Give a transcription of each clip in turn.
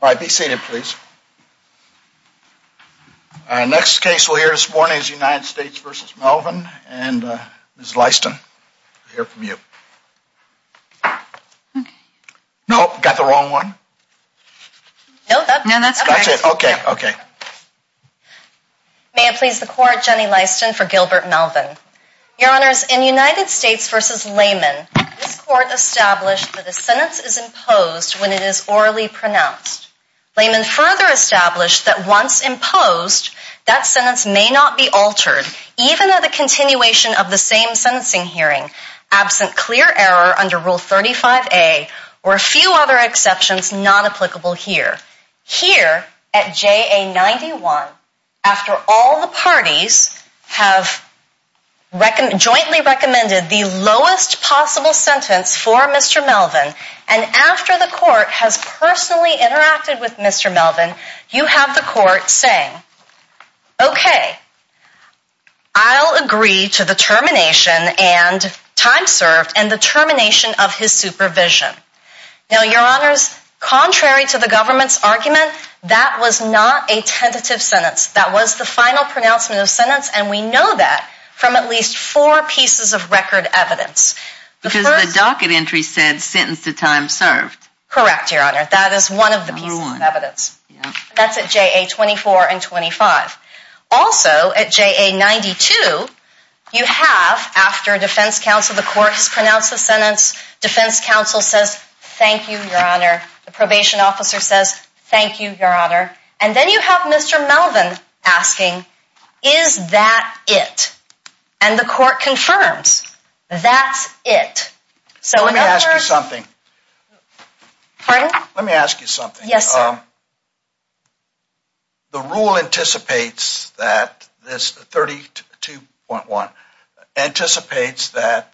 All right, be seated please. Our next case we'll hear this morning is United States v. Melvin and Ms. Lyston, we'll hear from you. No, got the wrong one? No, that's correct. Okay, okay. May it please the court, Jenny Lyston for Gilbert Melvin. Your honors, in United States v. Layman, this court established that a sentence is imposed when it is orally pronounced. Layman further established that once imposed, that sentence may not be altered, even at the continuation of the same sentencing hearing, absent clear error under Rule 35A or a few other exceptions not applicable here. Here, at JA 91, after all the parties have jointly recommended the lowest possible sentence for Mr. Melvin, and after the court has personally interacted with Mr. Melvin, you have the court saying, okay, I'll agree to the termination and time served and the termination of his supervision. Now, your honors, contrary to the government's argument, that was not a tentative sentence. That was the final pronouncement of sentence and we know that from at least four pieces of record evidence. Because the docket entry said sentence to time served. Correct, your honor, that is one of the pieces of evidence. That's at JA 24 and 25. Also, at JA 92, you have, after defense counsel, the court has pronounced the sentence, defense counsel says, thank you, your honor, the probation officer says, thank you, your honor, and then you have Mr. Melvin asking, is that it? And the court confirms, that's it. So, in other words... Let me ask you something. Pardon? Let me ask you something. Yes, sir. The rule anticipates that this 32.1 anticipates that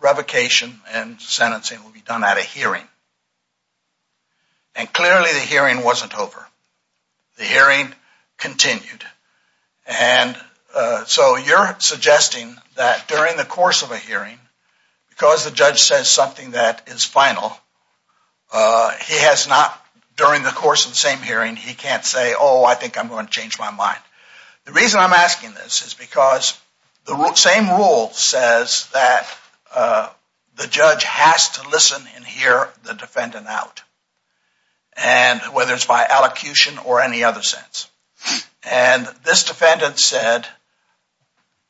revocation and sentencing will be done at a hearing. And clearly, the hearing wasn't over. The hearing continued. And so, you're suggesting that during the course of a hearing, because the judge says something that is final, he has not, during the course of the same hearing, he can't say, oh, I think I'm going to change my mind. The reason I'm asking this is because the same rule says that the judge has to listen and hear the defendant out. And whether it's by allocution or any other sense. And this defendant said,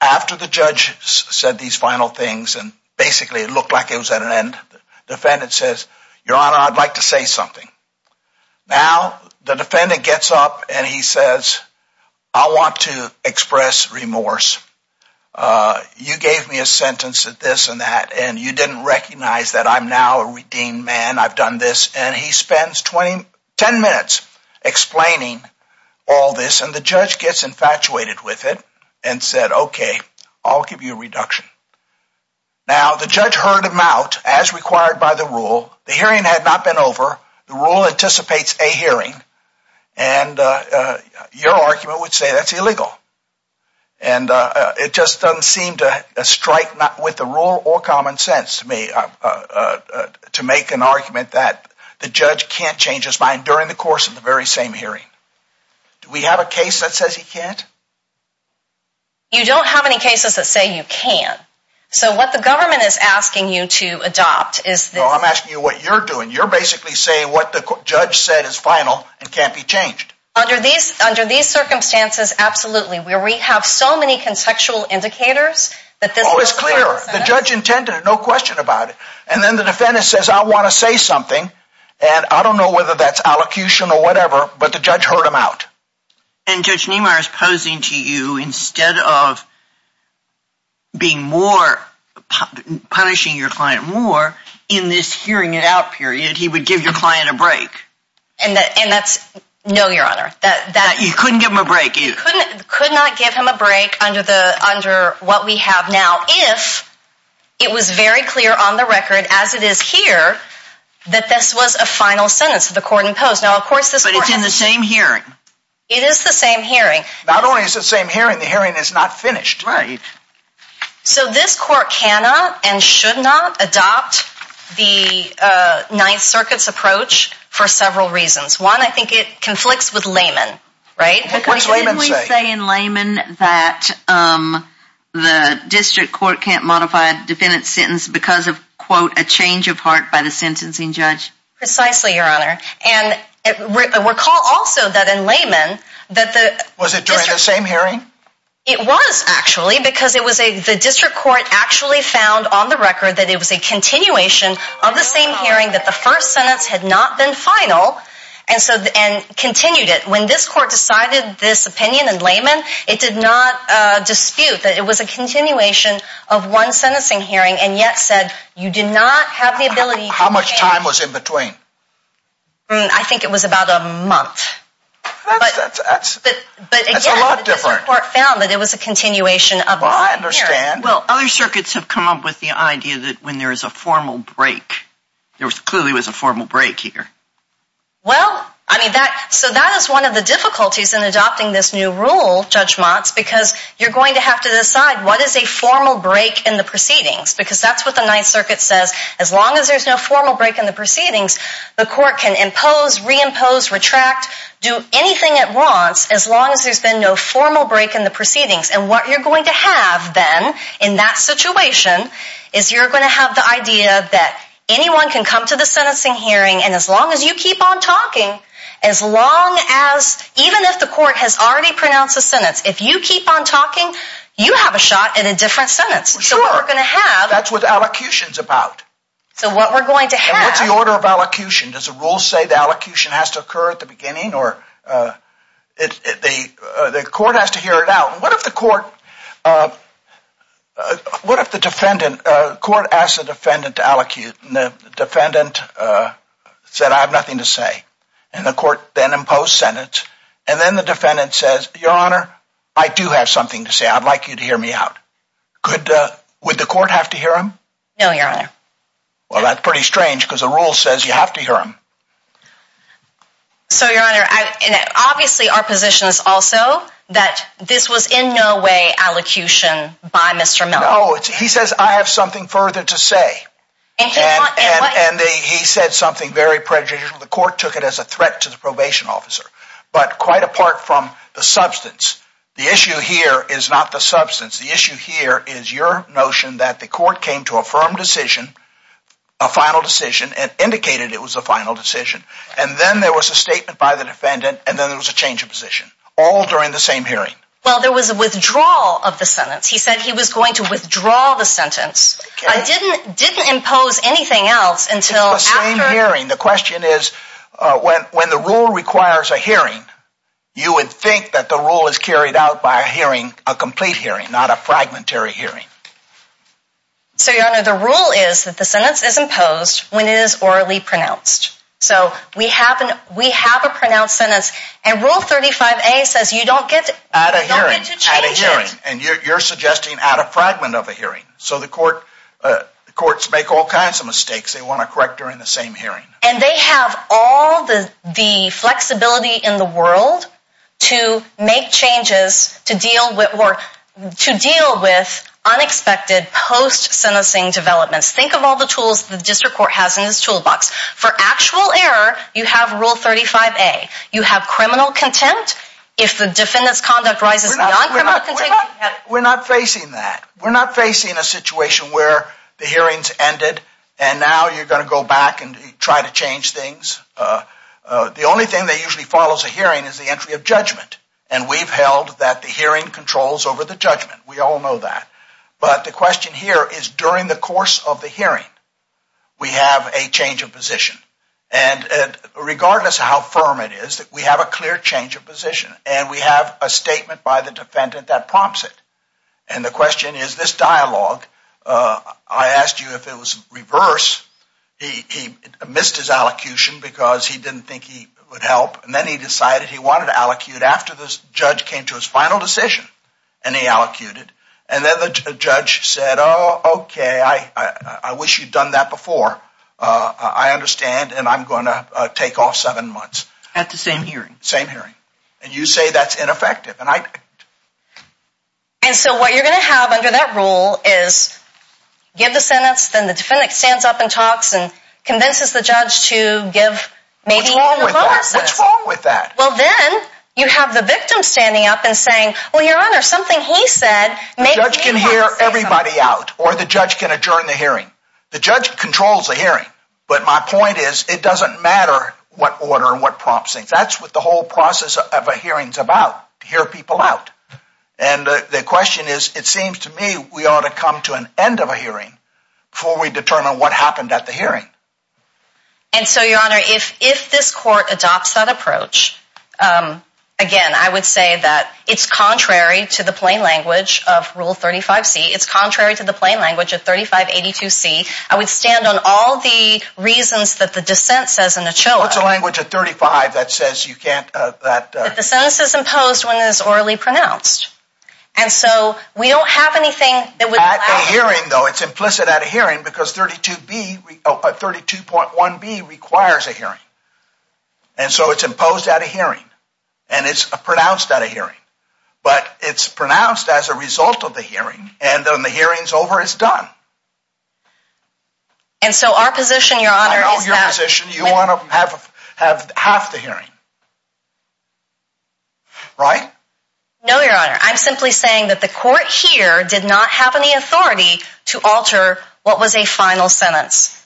after the judge said these final things, and basically it looked like it was at an end, the defendant says, your honor, I'd like to say something. Now, the defendant gets up and he says, I want to express remorse. You gave me a sentence at this and that, and you didn't recognize that I'm now a redeemed man, I've done this. And he spends 10 minutes explaining all this. And the judge gets infatuated with it and said, OK, I'll give you a reduction. Now, the judge heard him out, as required by the rule. The hearing had not been over. The rule anticipates a hearing. And your argument would say that's illegal. And it just doesn't seem to strike with the rule or common sense to me, to make an argument that the judge can't change his mind during the course of the very same hearing. Do we have a case that says he can't? You don't have any cases that say you can't. So what the government is asking you to adopt is this- No, I'm asking you what you're doing. You're basically saying what the judge said is final and can't be changed. Under these circumstances, absolutely. Where we have so many contextual indicators that this- Oh, it's clear. The judge intended it, no question about it. And then the defendant says, I want to say something. And I don't know whether that's allocution or whatever, but the judge heard him out. And Judge Niemeyer is posing to you, instead of punishing your client more, in this hearing it out period, he would give your client a break. And that's- No, Your Honor. You couldn't give him a break. You could not give him a break under what we have now, if it was very clear on the record, as it is here, that this was a final sentence the court imposed. Now, of course, this- But it's in the same hearing. It is the same hearing. Not only is it the same hearing, the hearing is not finished. Right. So this court cannot and should not adopt the Ninth Circuit's approach for several reasons. One, I think it conflicts with layman, right? What's layman say? Didn't we say in layman that the district court can't modify a defendant's sentence because of, quote, a change of heart by the sentencing judge? Precisely, Your Honor. And recall also that in layman, that the- Was it during the same hearing? It was, actually, because the district court actually found on the record that it was a continuation of the same hearing, that the first sentence had not been final, and continued it. When this court decided this opinion in layman, it did not dispute that it was a continuation of one sentencing hearing, and yet said you did not have the ability to change- How much time was in between? I think it was about a month. That's a lot different. But again, the district court found that it was a continuation of the same hearing. Well, I understand. Well, other circuits have come up with the idea that when there is a formal break, there clearly was a formal break here. Well, I mean, that- So that is one of the difficulties in adopting this new rule, Judge Motz, because you're going to have to decide what is a formal break in the proceedings, because that's what the Ninth Circuit says. As long as there's no formal break in the proceedings, the court can impose, reimpose, retract, do anything it wants, as long as there's been no formal break in the proceedings. And what you're going to have, then, in that situation, is you're going to have the idea that anyone can come to the sentencing hearing, and as long as you keep on talking, as long as, even if the court has already pronounced a sentence, if you keep on talking, you have a shot at a different sentence. So what we're going to have- That's what allocution's about. So what we're going to have- And what's the order of allocution? Does the rule say the allocution has to occur at the beginning, or the court has to hear it out? What if the court, what if the defendant, the court asks the defendant to allocute, and the defendant said, I have nothing to say, and the court then imposed sentence, and then the defendant says, Your Honor, I do have something to say. I'd like you to hear me out. Would the court have to hear him? No, Your Honor. Well, that's pretty strange, because the rule says you have to hear him. So, Your Honor, obviously our position is also that this was in no way allocution by Mr. Miller. He says, I have something further to say. And he said something very prejudicial. The court took it as a threat to the probation officer. But quite apart from the substance, the issue here is not the substance. The issue here is your notion that the court came to a firm decision, a final decision, and indicated it was a final decision. And then there was a statement by the defendant, and then there was a change of position, all during the same hearing. Well, there was a withdrawal of the sentence. He said he was going to withdraw the sentence. I didn't impose anything else until after... It's the same hearing. The question is, when the rule requires a hearing, you would think that the rule is carried out by a hearing, a complete hearing, not a fragmentary hearing. So, Your Honor, the rule is that the sentence is imposed when it is orally pronounced. So, we have a pronounced sentence. And Rule 35A says you don't get to change it. Add a hearing. And you're suggesting add a fragment of a hearing. So, the courts make all kinds of mistakes they want to correct during the same hearing. And they have all the flexibility in the world to make changes to deal with unexpected post-sentencing developments. Think of all the tools the district court has in its toolbox. For actual error, you have Rule 35A. You have criminal contempt. If the defendant's conduct rises beyond criminal contempt... We're not facing that. We're not facing a situation where the hearing's ended and now you're going to go back and try to change things. The only thing that usually follows a hearing is the entry of judgment. And we've held that the hearing controls over the judgment. We all know that. But the question here is, during the course of the hearing, we have a change of position. And regardless of how firm it is, we have a clear change of position. And we have a statement by the defendant that prompts it. And the question is, this dialogue, I asked you if it was reverse. He missed his allocution because he didn't think he would help. And then he decided he wanted to allocute after the judge came to his final decision. And he allocated. And then the judge said, oh, OK, I wish you'd done that before. I understand. And I'm going to take off seven months. At the same hearing. Same hearing. And you say that's ineffective. And I... And so what you're going to have under that rule is, give the sentence, then the defendant stands up and talks and convinces the judge to give maybe even a lower sentence. What's wrong with that? Well, then you have the victim standing up and saying, well, Your Honor, something he said... The judge can hear everybody out. Or the judge can adjourn the hearing. The judge controls the hearing. But my point is, it doesn't matter what order and what prompt. That's what the whole process of a hearing is about. To hear people out. And the question is, it seems to me we ought to come to an end of a hearing before we determine what happened at the hearing. And so, Your Honor, if this court adopts that approach, again, I would say that it's contrary to the plain language of Rule 35C. It's contrary to the plain language of 3582C. I would stand on all the reasons that the dissent says in the CHOA. What's a language of 35 that says you can't... That the sentence is imposed when it is orally pronounced. And so, we don't have anything that would... At a hearing, though, it's implicit at a hearing, because 32B, or 32.1B, requires a hearing. And so it's imposed at a hearing. And it's pronounced at a hearing. But it's pronounced as a result of the hearing. And when the hearing's over, it's done. And so our position, Your Honor... I know your position. You want to have half the hearing. Right? No, Your Honor. I'm simply saying that the court here did not have any authority to alter what was a final sentence.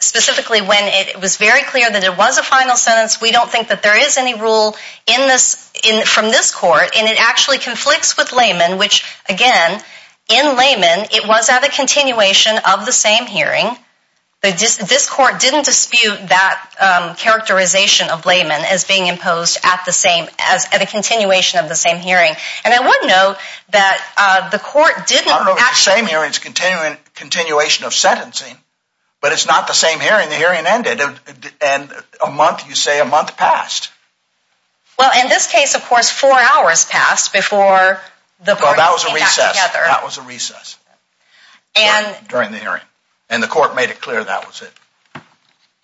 Specifically, when it was very clear that it was a final sentence, we don't think that there is any rule from this court. And it actually conflicts with laymen, which, again, in laymen, it was at a continuation of the same hearing. This court didn't dispute that characterization of laymen as being imposed at the same... At a continuation of the same hearing. And I would note that the court didn't... I don't know if the same hearing's a continuation of sentencing. But it's not the same hearing. The hearing ended. And a month, you say, a month passed. Well, in this case, of course, four hours passed before the court came back together. Well, that was a recess. That was a recess during the hearing. And the court made it clear that was it.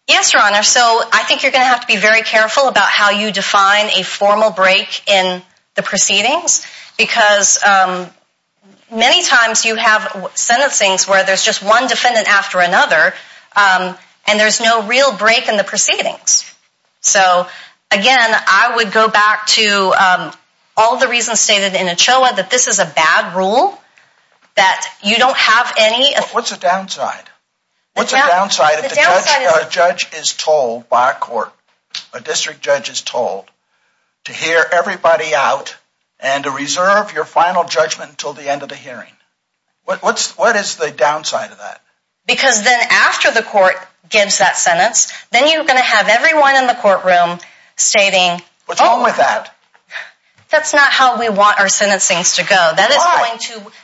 Yes, Your Honor. So I think you're going to have to be very careful about how you define a formal break in the proceedings because many times you have sentencings where there's just one defendant after another and there's no real break in the proceedings. So, again, I would go back to all the reasons stated in Ochoa that this is a bad rule, that you don't have any... What's the downside? What's the downside if a judge is told by a court, a district judge is told to hear everybody out and to reserve your final judgment until the end of the hearing? What is the downside of that? Because then after the court gives that sentence, then you're going to have everyone in the courtroom stating... What's wrong with that? That's not how we want our sentencings to go. Why?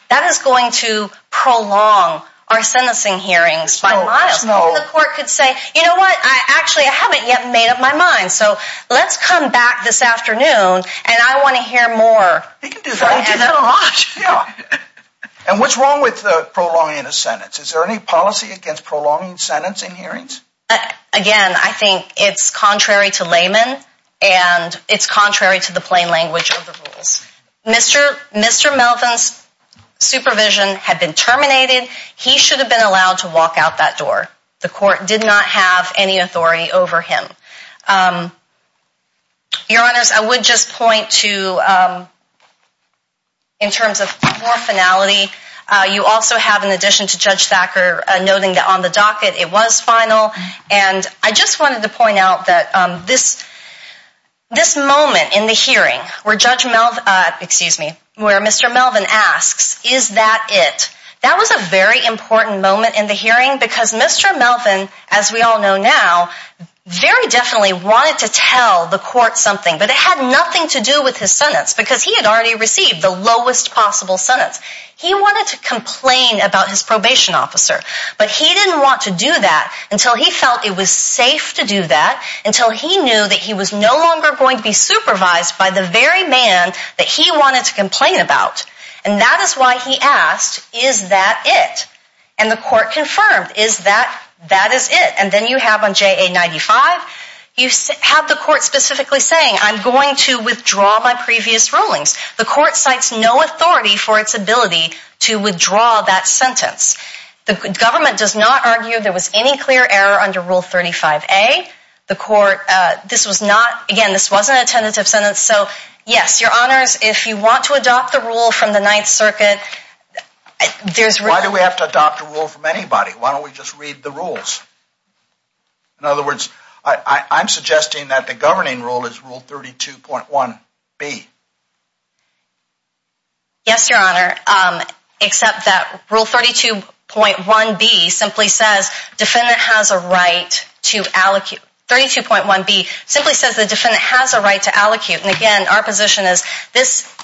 That is going to prolong our sentencing hearings by miles. Maybe the court could say, you know what, actually, I haven't yet made up my mind, so let's come back this afternoon and I want to hear more. He can do that. He can do that a lot. And what's wrong with prolonging a sentence? Is there any policy against prolonging sentencing hearings? Again, I think it's contrary to layman and it's contrary to the plain language of the rules. Mr. Melvin's supervision had been terminated. He should have been allowed to walk out that door. The court did not have any authority over him. Your Honours, I would just point to... In terms of more finality, you also have, in addition to Judge Thacker, noting that on the docket it was final. And I just wanted to point out that this moment in the hearing where Judge Melvin... Excuse me. Where Mr. Melvin asks, is that it? That was a very important moment in the hearing because Mr. Melvin, as we all know now, very definitely wanted to tell the court something, but it had nothing to do with his sentence because he had already received the lowest possible sentence. He wanted to complain about his probation officer, but he didn't want to do that until he felt it was safe to do that, until he knew that he was no longer going to be supervised by the very man that he wanted to complain about. And that is why he asked, is that it? And the court confirmed, is that... That is it. And then you have on JA95, you have the court specifically saying, I'm going to withdraw my previous rulings. The court cites no authority for its ability to withdraw that sentence. The government does not argue there was any clear error under Rule 35A. The court... This was not... Again, this wasn't a tentative sentence. So, yes, Your Honours, if you want to adopt the rule from the Ninth Circuit, there's... Why do we have to adopt a rule from anybody? Why don't we just read the rules? In other words, I'm suggesting that the governing rule is Rule 32.1B. Yes, Your Honour, except that Rule 32.1B simply says, defendant has a right to allocute. 32.1B simply says the defendant has a right to allocate. And, again, our position is, this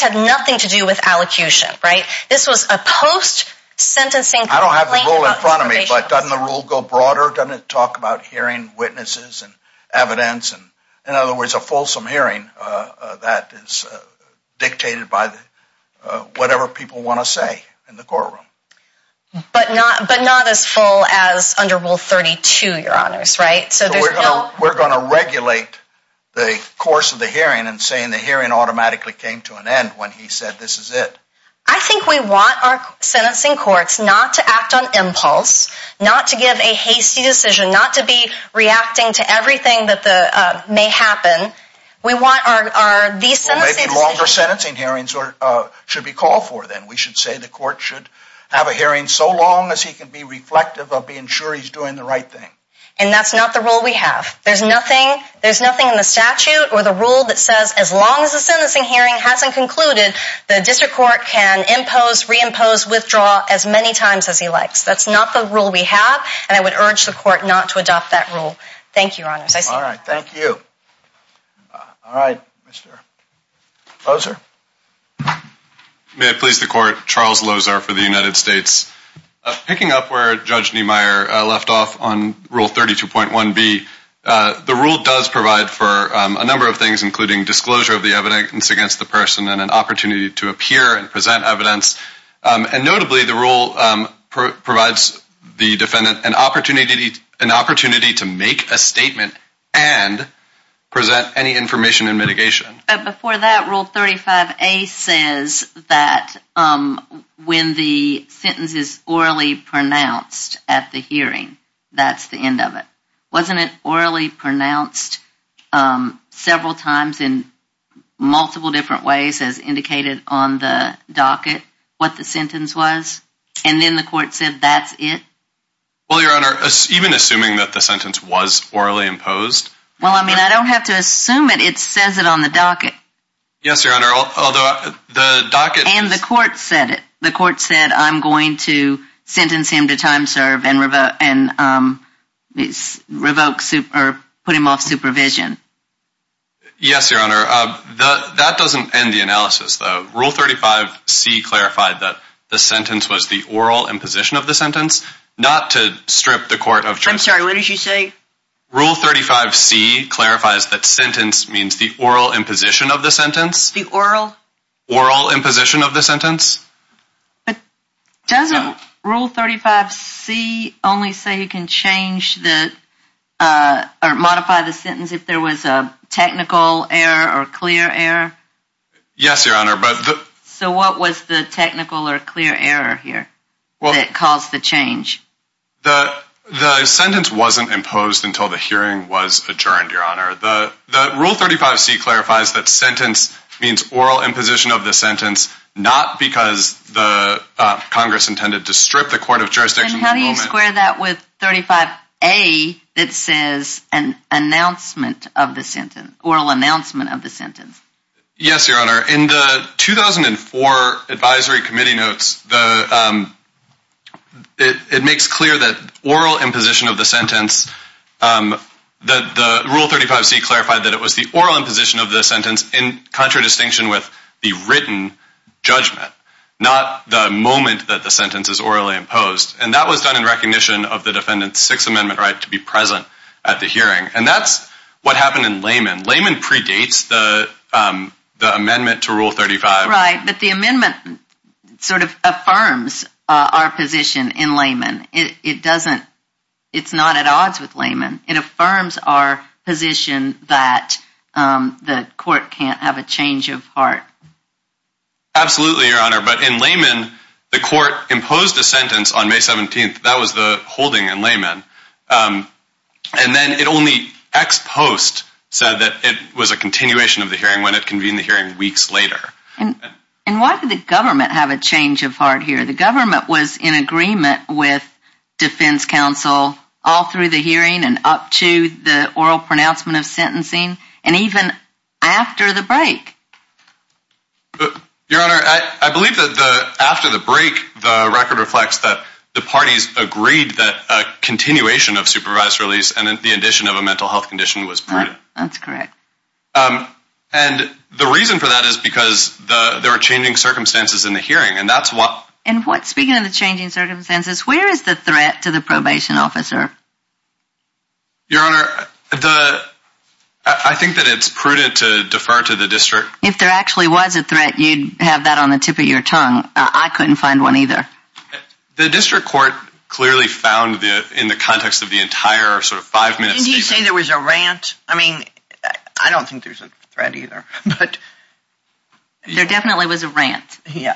had nothing to do with allocution, right? This was a post-sentencing complaint... I don't have the rule in front of me, but doesn't the rule go broader? Doesn't it talk about hearing witnesses and evidence? In other words, a fulsome hearing that is dictated by whatever people want to say in the courtroom. But not as full as under Rule 32, Your Honours, right? So, we're going to regulate the course of the hearing and saying the hearing automatically came to an end when he said, this is it. I think we want our sentencing courts not to act on impulse, not to give a hasty decision, not to be reacting to everything that may happen. We want our... Maybe longer sentencing hearings should be called for then. We should say the court should have a hearing so long as he can be reflective of being sure he's doing the right thing. And that's not the rule we have. There's nothing in the statute or the rule that says, as long as the sentencing hearing hasn't concluded, the district court can impose, reimpose, withdraw as many times as he likes. That's not the rule we have. And I would urge the court not to adopt that rule. Thank you, Your Honours. All right, thank you. All right, Mr. Lozar. May it please the court, Charles Lozar for the United States. Picking up where Judge Niemeyer left off on Rule 32.1b, the rule does provide for a number of things, including disclosure of the evidence against the person and an opportunity to appear and present evidence. And notably, the rule provides the defendant an opportunity to make a statement and present any information in mitigation. Before that, Rule 35a says that when the sentence is orally pronounced at the hearing, that's the end of it. Wasn't it orally pronounced several times in multiple different ways? As indicated on the docket, what the sentence was? And then the court said that's it? Well, Your Honour, even assuming that the sentence was orally imposed? Well, I mean, I don't have to assume it. It says it on the docket. Yes, Your Honour, although the docket... And the court said it. The court said, I'm going to sentence him to time serve and put him off supervision. Yes, Your Honour, that doesn't end the analysis, though. Rule 35c clarified that the sentence was the oral imposition of the sentence, not to strip the court of... I'm sorry, what did you say? Rule 35c clarifies that sentence means the oral imposition of the sentence. The oral? Oral imposition of the sentence. But doesn't Rule 35c only say you can change the... There was a technical error or clear error? Yes, Your Honour, but... So what was the technical or clear error here that caused the change? The sentence wasn't imposed until the hearing was adjourned, Your Honour. The Rule 35c clarifies that sentence means oral imposition of the sentence, not because Congress intended to strip the court of jurisdiction... Square that with 35a that says an announcement of the sentence, oral announcement of the sentence. Yes, Your Honour, in the 2004 advisory committee notes, it makes clear that oral imposition of the sentence... That the Rule 35c clarified that it was the oral imposition of the sentence in contradistinction with the written judgment, not the moment that the sentence is orally imposed. And that was done in recognition of the defendant's Sixth Amendment right to be present at the hearing. And that's what happened in Layman. Layman predates the amendment to Rule 35. Right, but the amendment sort of affirms our position in Layman. It doesn't... It's not at odds with Layman. It affirms our position that the court can't have a change of heart. Absolutely, Your Honour, but in Layman, the court imposed a sentence on May 17th. That was the holding in Layman. And then it only ex post said that it was a continuation of the hearing when it convened the hearing weeks later. And why did the government have a change of heart here? The government was in agreement with defense counsel all through the hearing and up to the oral pronouncement of sentencing and even after the break. Your Honour, I believe that after the break, the record reflects that the parties agreed that a continuation of supervised release and the addition of a mental health condition was prudent. That's correct. And the reason for that is because there were changing circumstances in the hearing. And that's what... And speaking of the changing circumstances, where is the threat to the probation officer? Your Honour, the... I think that it's prudent to defer to the district. If there actually was a threat, you'd have that on the tip of your tongue. I couldn't find one either. The district court clearly found in the context of the entire sort of five-minute statement... Didn't he say there was a rant? I mean, I don't think there's a threat either, but... There definitely was a rant, yeah.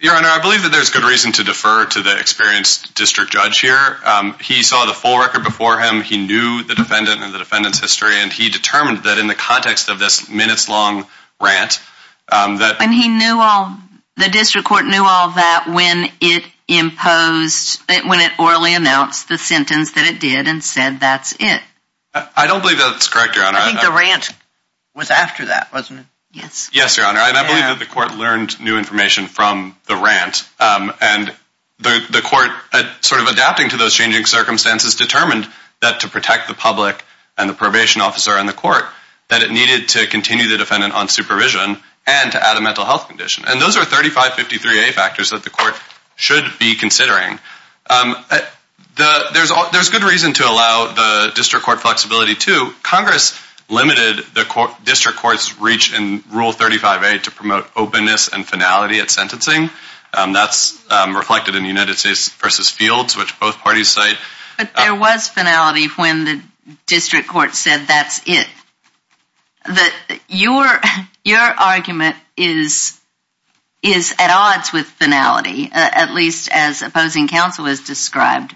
Your Honour, I believe that there's good reason to defer to the experienced district judge here. He saw the full record before him. He knew the defendant and the defendant's history, and he determined that in the context of this minutes-long rant... And he knew all... The district court knew all that when it imposed... when it orally announced the sentence that it did and said that's it. I don't believe that's correct, Your Honour. I think the rant was after that, wasn't it? Yes. Yes, Your Honour. And I believe that the court learned new information from the rant. And the court, sort of adapting to those changing circumstances, determined that to protect the public and the probation officer and the court, that it needed to continue the defendant on supervision and to add a mental health condition. And those are 3553A factors that the court should be considering. There's good reason to allow the district court flexibility, too. Congress limited the district court's reach in Rule 35A to promote openness and finality at sentencing. That's reflected in United States v. Fields, which both parties cite. But there was finality when the district court said that's it. Your argument is at odds with finality, at least as opposing counsel has described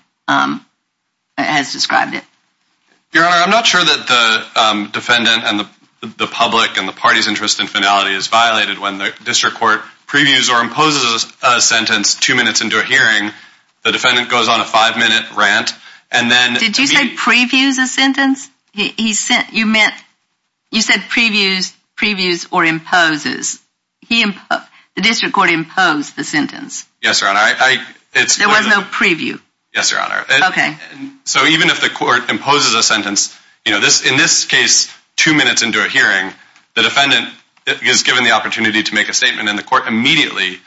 it. Your Honour, I'm not sure that the defendant and the public and the party's interest in finality is violated when the district court previews or imposes a sentence two minutes into a hearing. The defendant goes on a five-minute rant. Did you say previews a sentence? You said previews or imposes. The district court imposed the sentence. Yes, Your Honour. There was no preview. Yes, Your Honour. Okay. So even if the court imposes a sentence, the defendant is given the opportunity to make a statement and then the court immediately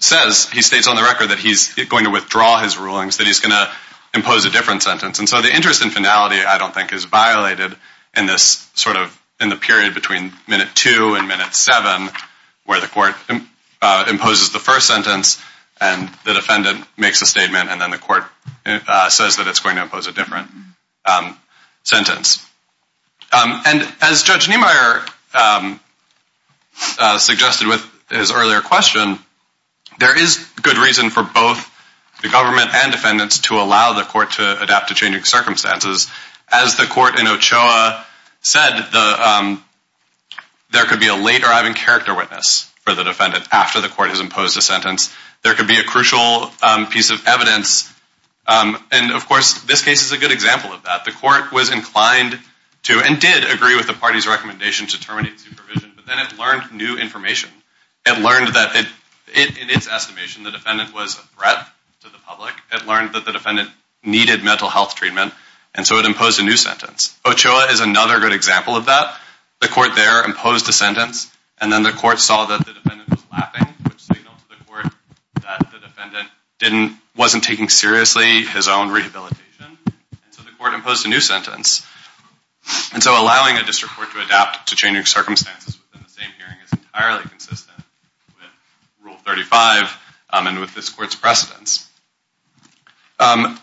states on the record that he's going to withdraw his rulings, that he's going to impose a different sentence. And so the interest in finality I don't think is violated in the period between minute two and minute seven where the court imposes the first sentence and the defendant makes a statement and then the court says that it's going to impose a different sentence. And as Judge Niemeyer suggested with his earlier question, there is good reason for both the government and defendants to allow the court to adapt to changing circumstances. As the court in Ochoa said, there could be a late arriving character witness for the defendant after the court has imposed a sentence. There could be a crucial piece of evidence. And, of course, this case is a good example of that. The court was inclined to and did agree with the party's recommendation to terminate supervision, but then it learned new information. It learned that in its estimation the defendant was a threat to the public. It learned that the defendant needed mental health treatment and so it imposed a new sentence. Ochoa is another good example of that. The court there imposed a sentence and then the court saw that the defendant was laughing, which signaled to the court that the defendant wasn't taking seriously his own rehabilitation. And so the court imposed a new sentence. And so allowing a district court to adapt to changing circumstances within the same hearing is entirely consistent with Rule 35 and with this court's precedence.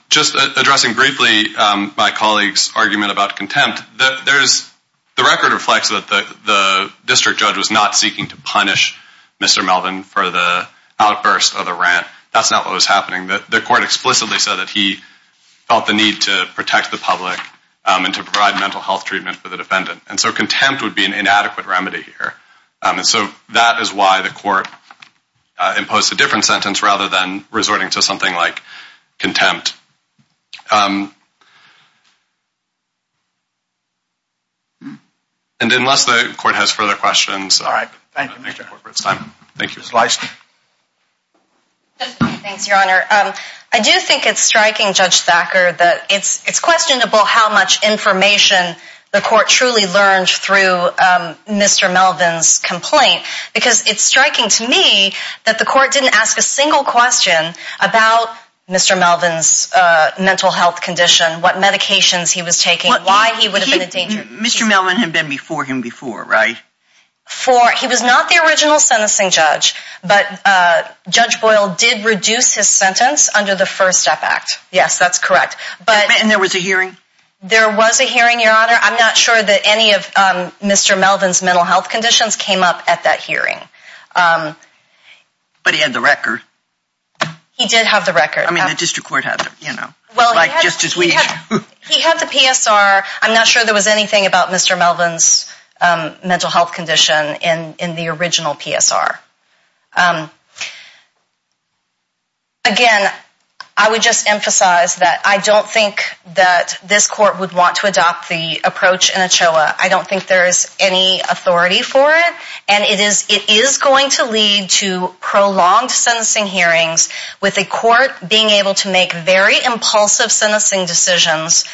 Just addressing briefly my colleague's argument about contempt, the record reflects that the district judge was not seeking to punish Mr. Melvin for the outburst of the rant. That's not what was happening. The court explicitly said that he felt the need to protect the public and to provide mental health treatment for the defendant. And so contempt would be an inadequate remedy here. And so that is why the court imposed a different sentence rather than resorting to something like contempt. And unless the court has further questions, I think it's time. Thank you. Judge Leister. Thanks, Your Honor. I do think it's striking, Judge Thacker, that it's questionable how much information the court truly learned through Mr. Melvin's complaint because it's striking to me that the court didn't ask a single question about Mr. Melvin's mental health condition, what medications he was taking, why he would have been in danger. Mr. Melvin had been before him before, right? He was not the original sentencing judge, but Judge Boyle did reduce his sentence under the First Step Act. Yes, that's correct. And there was a hearing? There was a hearing, Your Honor. I'm not sure that any of Mr. Melvin's mental health conditions came up at that hearing. But he had the record. He did have the record. I mean, the district court had it, you know, just as we do. He had the PSR. I'm not sure there was anything about Mr. Melvin's mental health condition in the original PSR. Again, I would just emphasize that I don't think that this court would want to adopt the approach in ACHOA. I don't think there is any authority for it, and it is going to lead to prolonged sentencing hearings with a court being able to make very impulsive sentencing decisions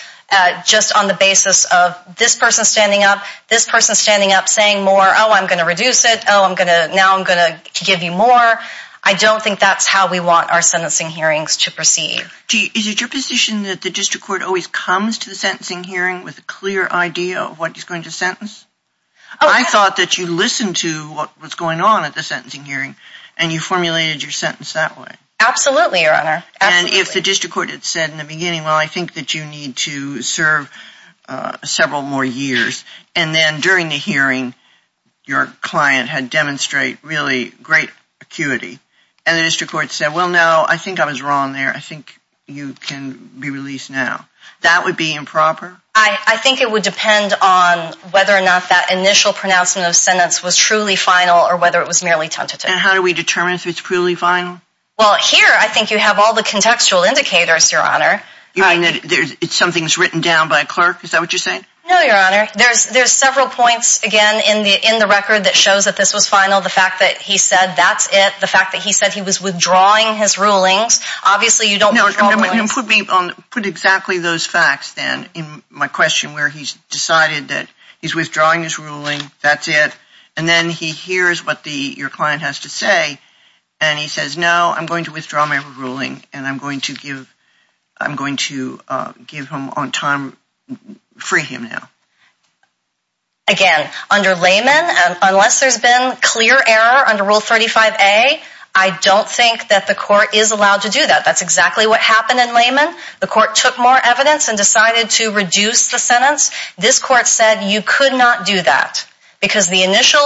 just on the basis of this person standing up, this person standing up saying more, oh, I'm going to reduce it, oh, now I'm going to give you more. I don't think that's how we want our sentencing hearings to proceed. Is it your position that the district court always comes to the sentencing hearing with a clear idea of what he's going to sentence? I thought that you listened to what was going on at the sentencing hearing and you formulated your sentence that way. Absolutely, Your Honor. And if the district court had said in the beginning, well, I think that you need to serve several more years, and then during the hearing your client had demonstrated really great acuity, and the district court said, well, no, I think I was wrong there. I think you can be released now, that would be improper? I think it would depend on whether or not that initial pronouncement of sentence was truly final or whether it was merely tentative. And how do we determine if it's truly final? Well, here I think you have all the contextual indicators, Your Honor. You mean that something's written down by a clerk? Is that what you're saying? No, Your Honor. There's several points, again, in the record that shows that this was final. The fact that he said that's it. The fact that he said he was withdrawing his rulings. Obviously, you don't know. Put exactly those facts, then, in my question where he's decided that he's withdrawing his ruling, that's it. And then he hears what your client has to say, and he says, no, I'm going to withdraw my ruling and I'm going to give him on time, free him now. Again, under layman, unless there's been clear error under Rule 35A, I don't think that the court is allowed to do that. That's exactly what happened in layman. The court took more evidence and decided to reduce the sentence. This court said you could not do that because the initial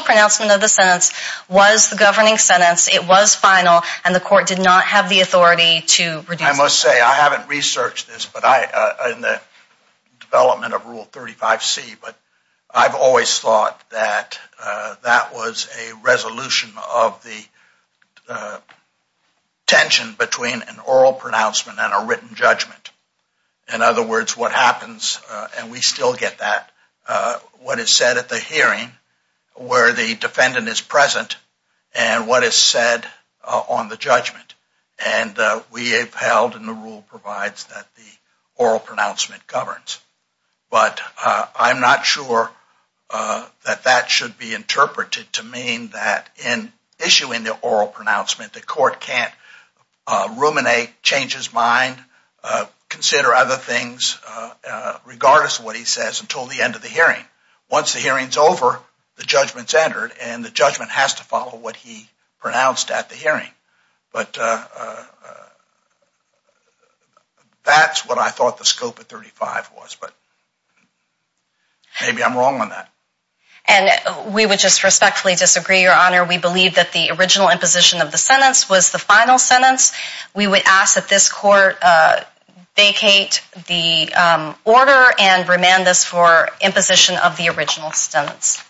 pronouncement of the sentence was the governing sentence, it was final, and the court did not have the authority to reduce it. I must say, I haven't researched this in the development of Rule 35C, but I've always thought that that was a resolution of the tension between an oral pronouncement and a written judgment. In other words, what happens, and we still get that, what is said at the hearing where the defendant is present and what is said on the judgment. And we have held, and the rule provides, that the oral pronouncement governs. But I'm not sure that that should be interpreted to mean that in issuing the oral pronouncement the court can't ruminate, change his mind, consider other things regardless of what he says until the end of the hearing. Once the hearing's over, the judgment's entered, and the judgment has to follow what he pronounced at the hearing. But that's what I thought the scope of 35 was, but maybe I'm wrong on that. And we would just respectfully disagree, Your Honor. We believe that the original imposition of the sentence was the final sentence. We would ask that this court vacate the order and remand this for imposition of the original sentence.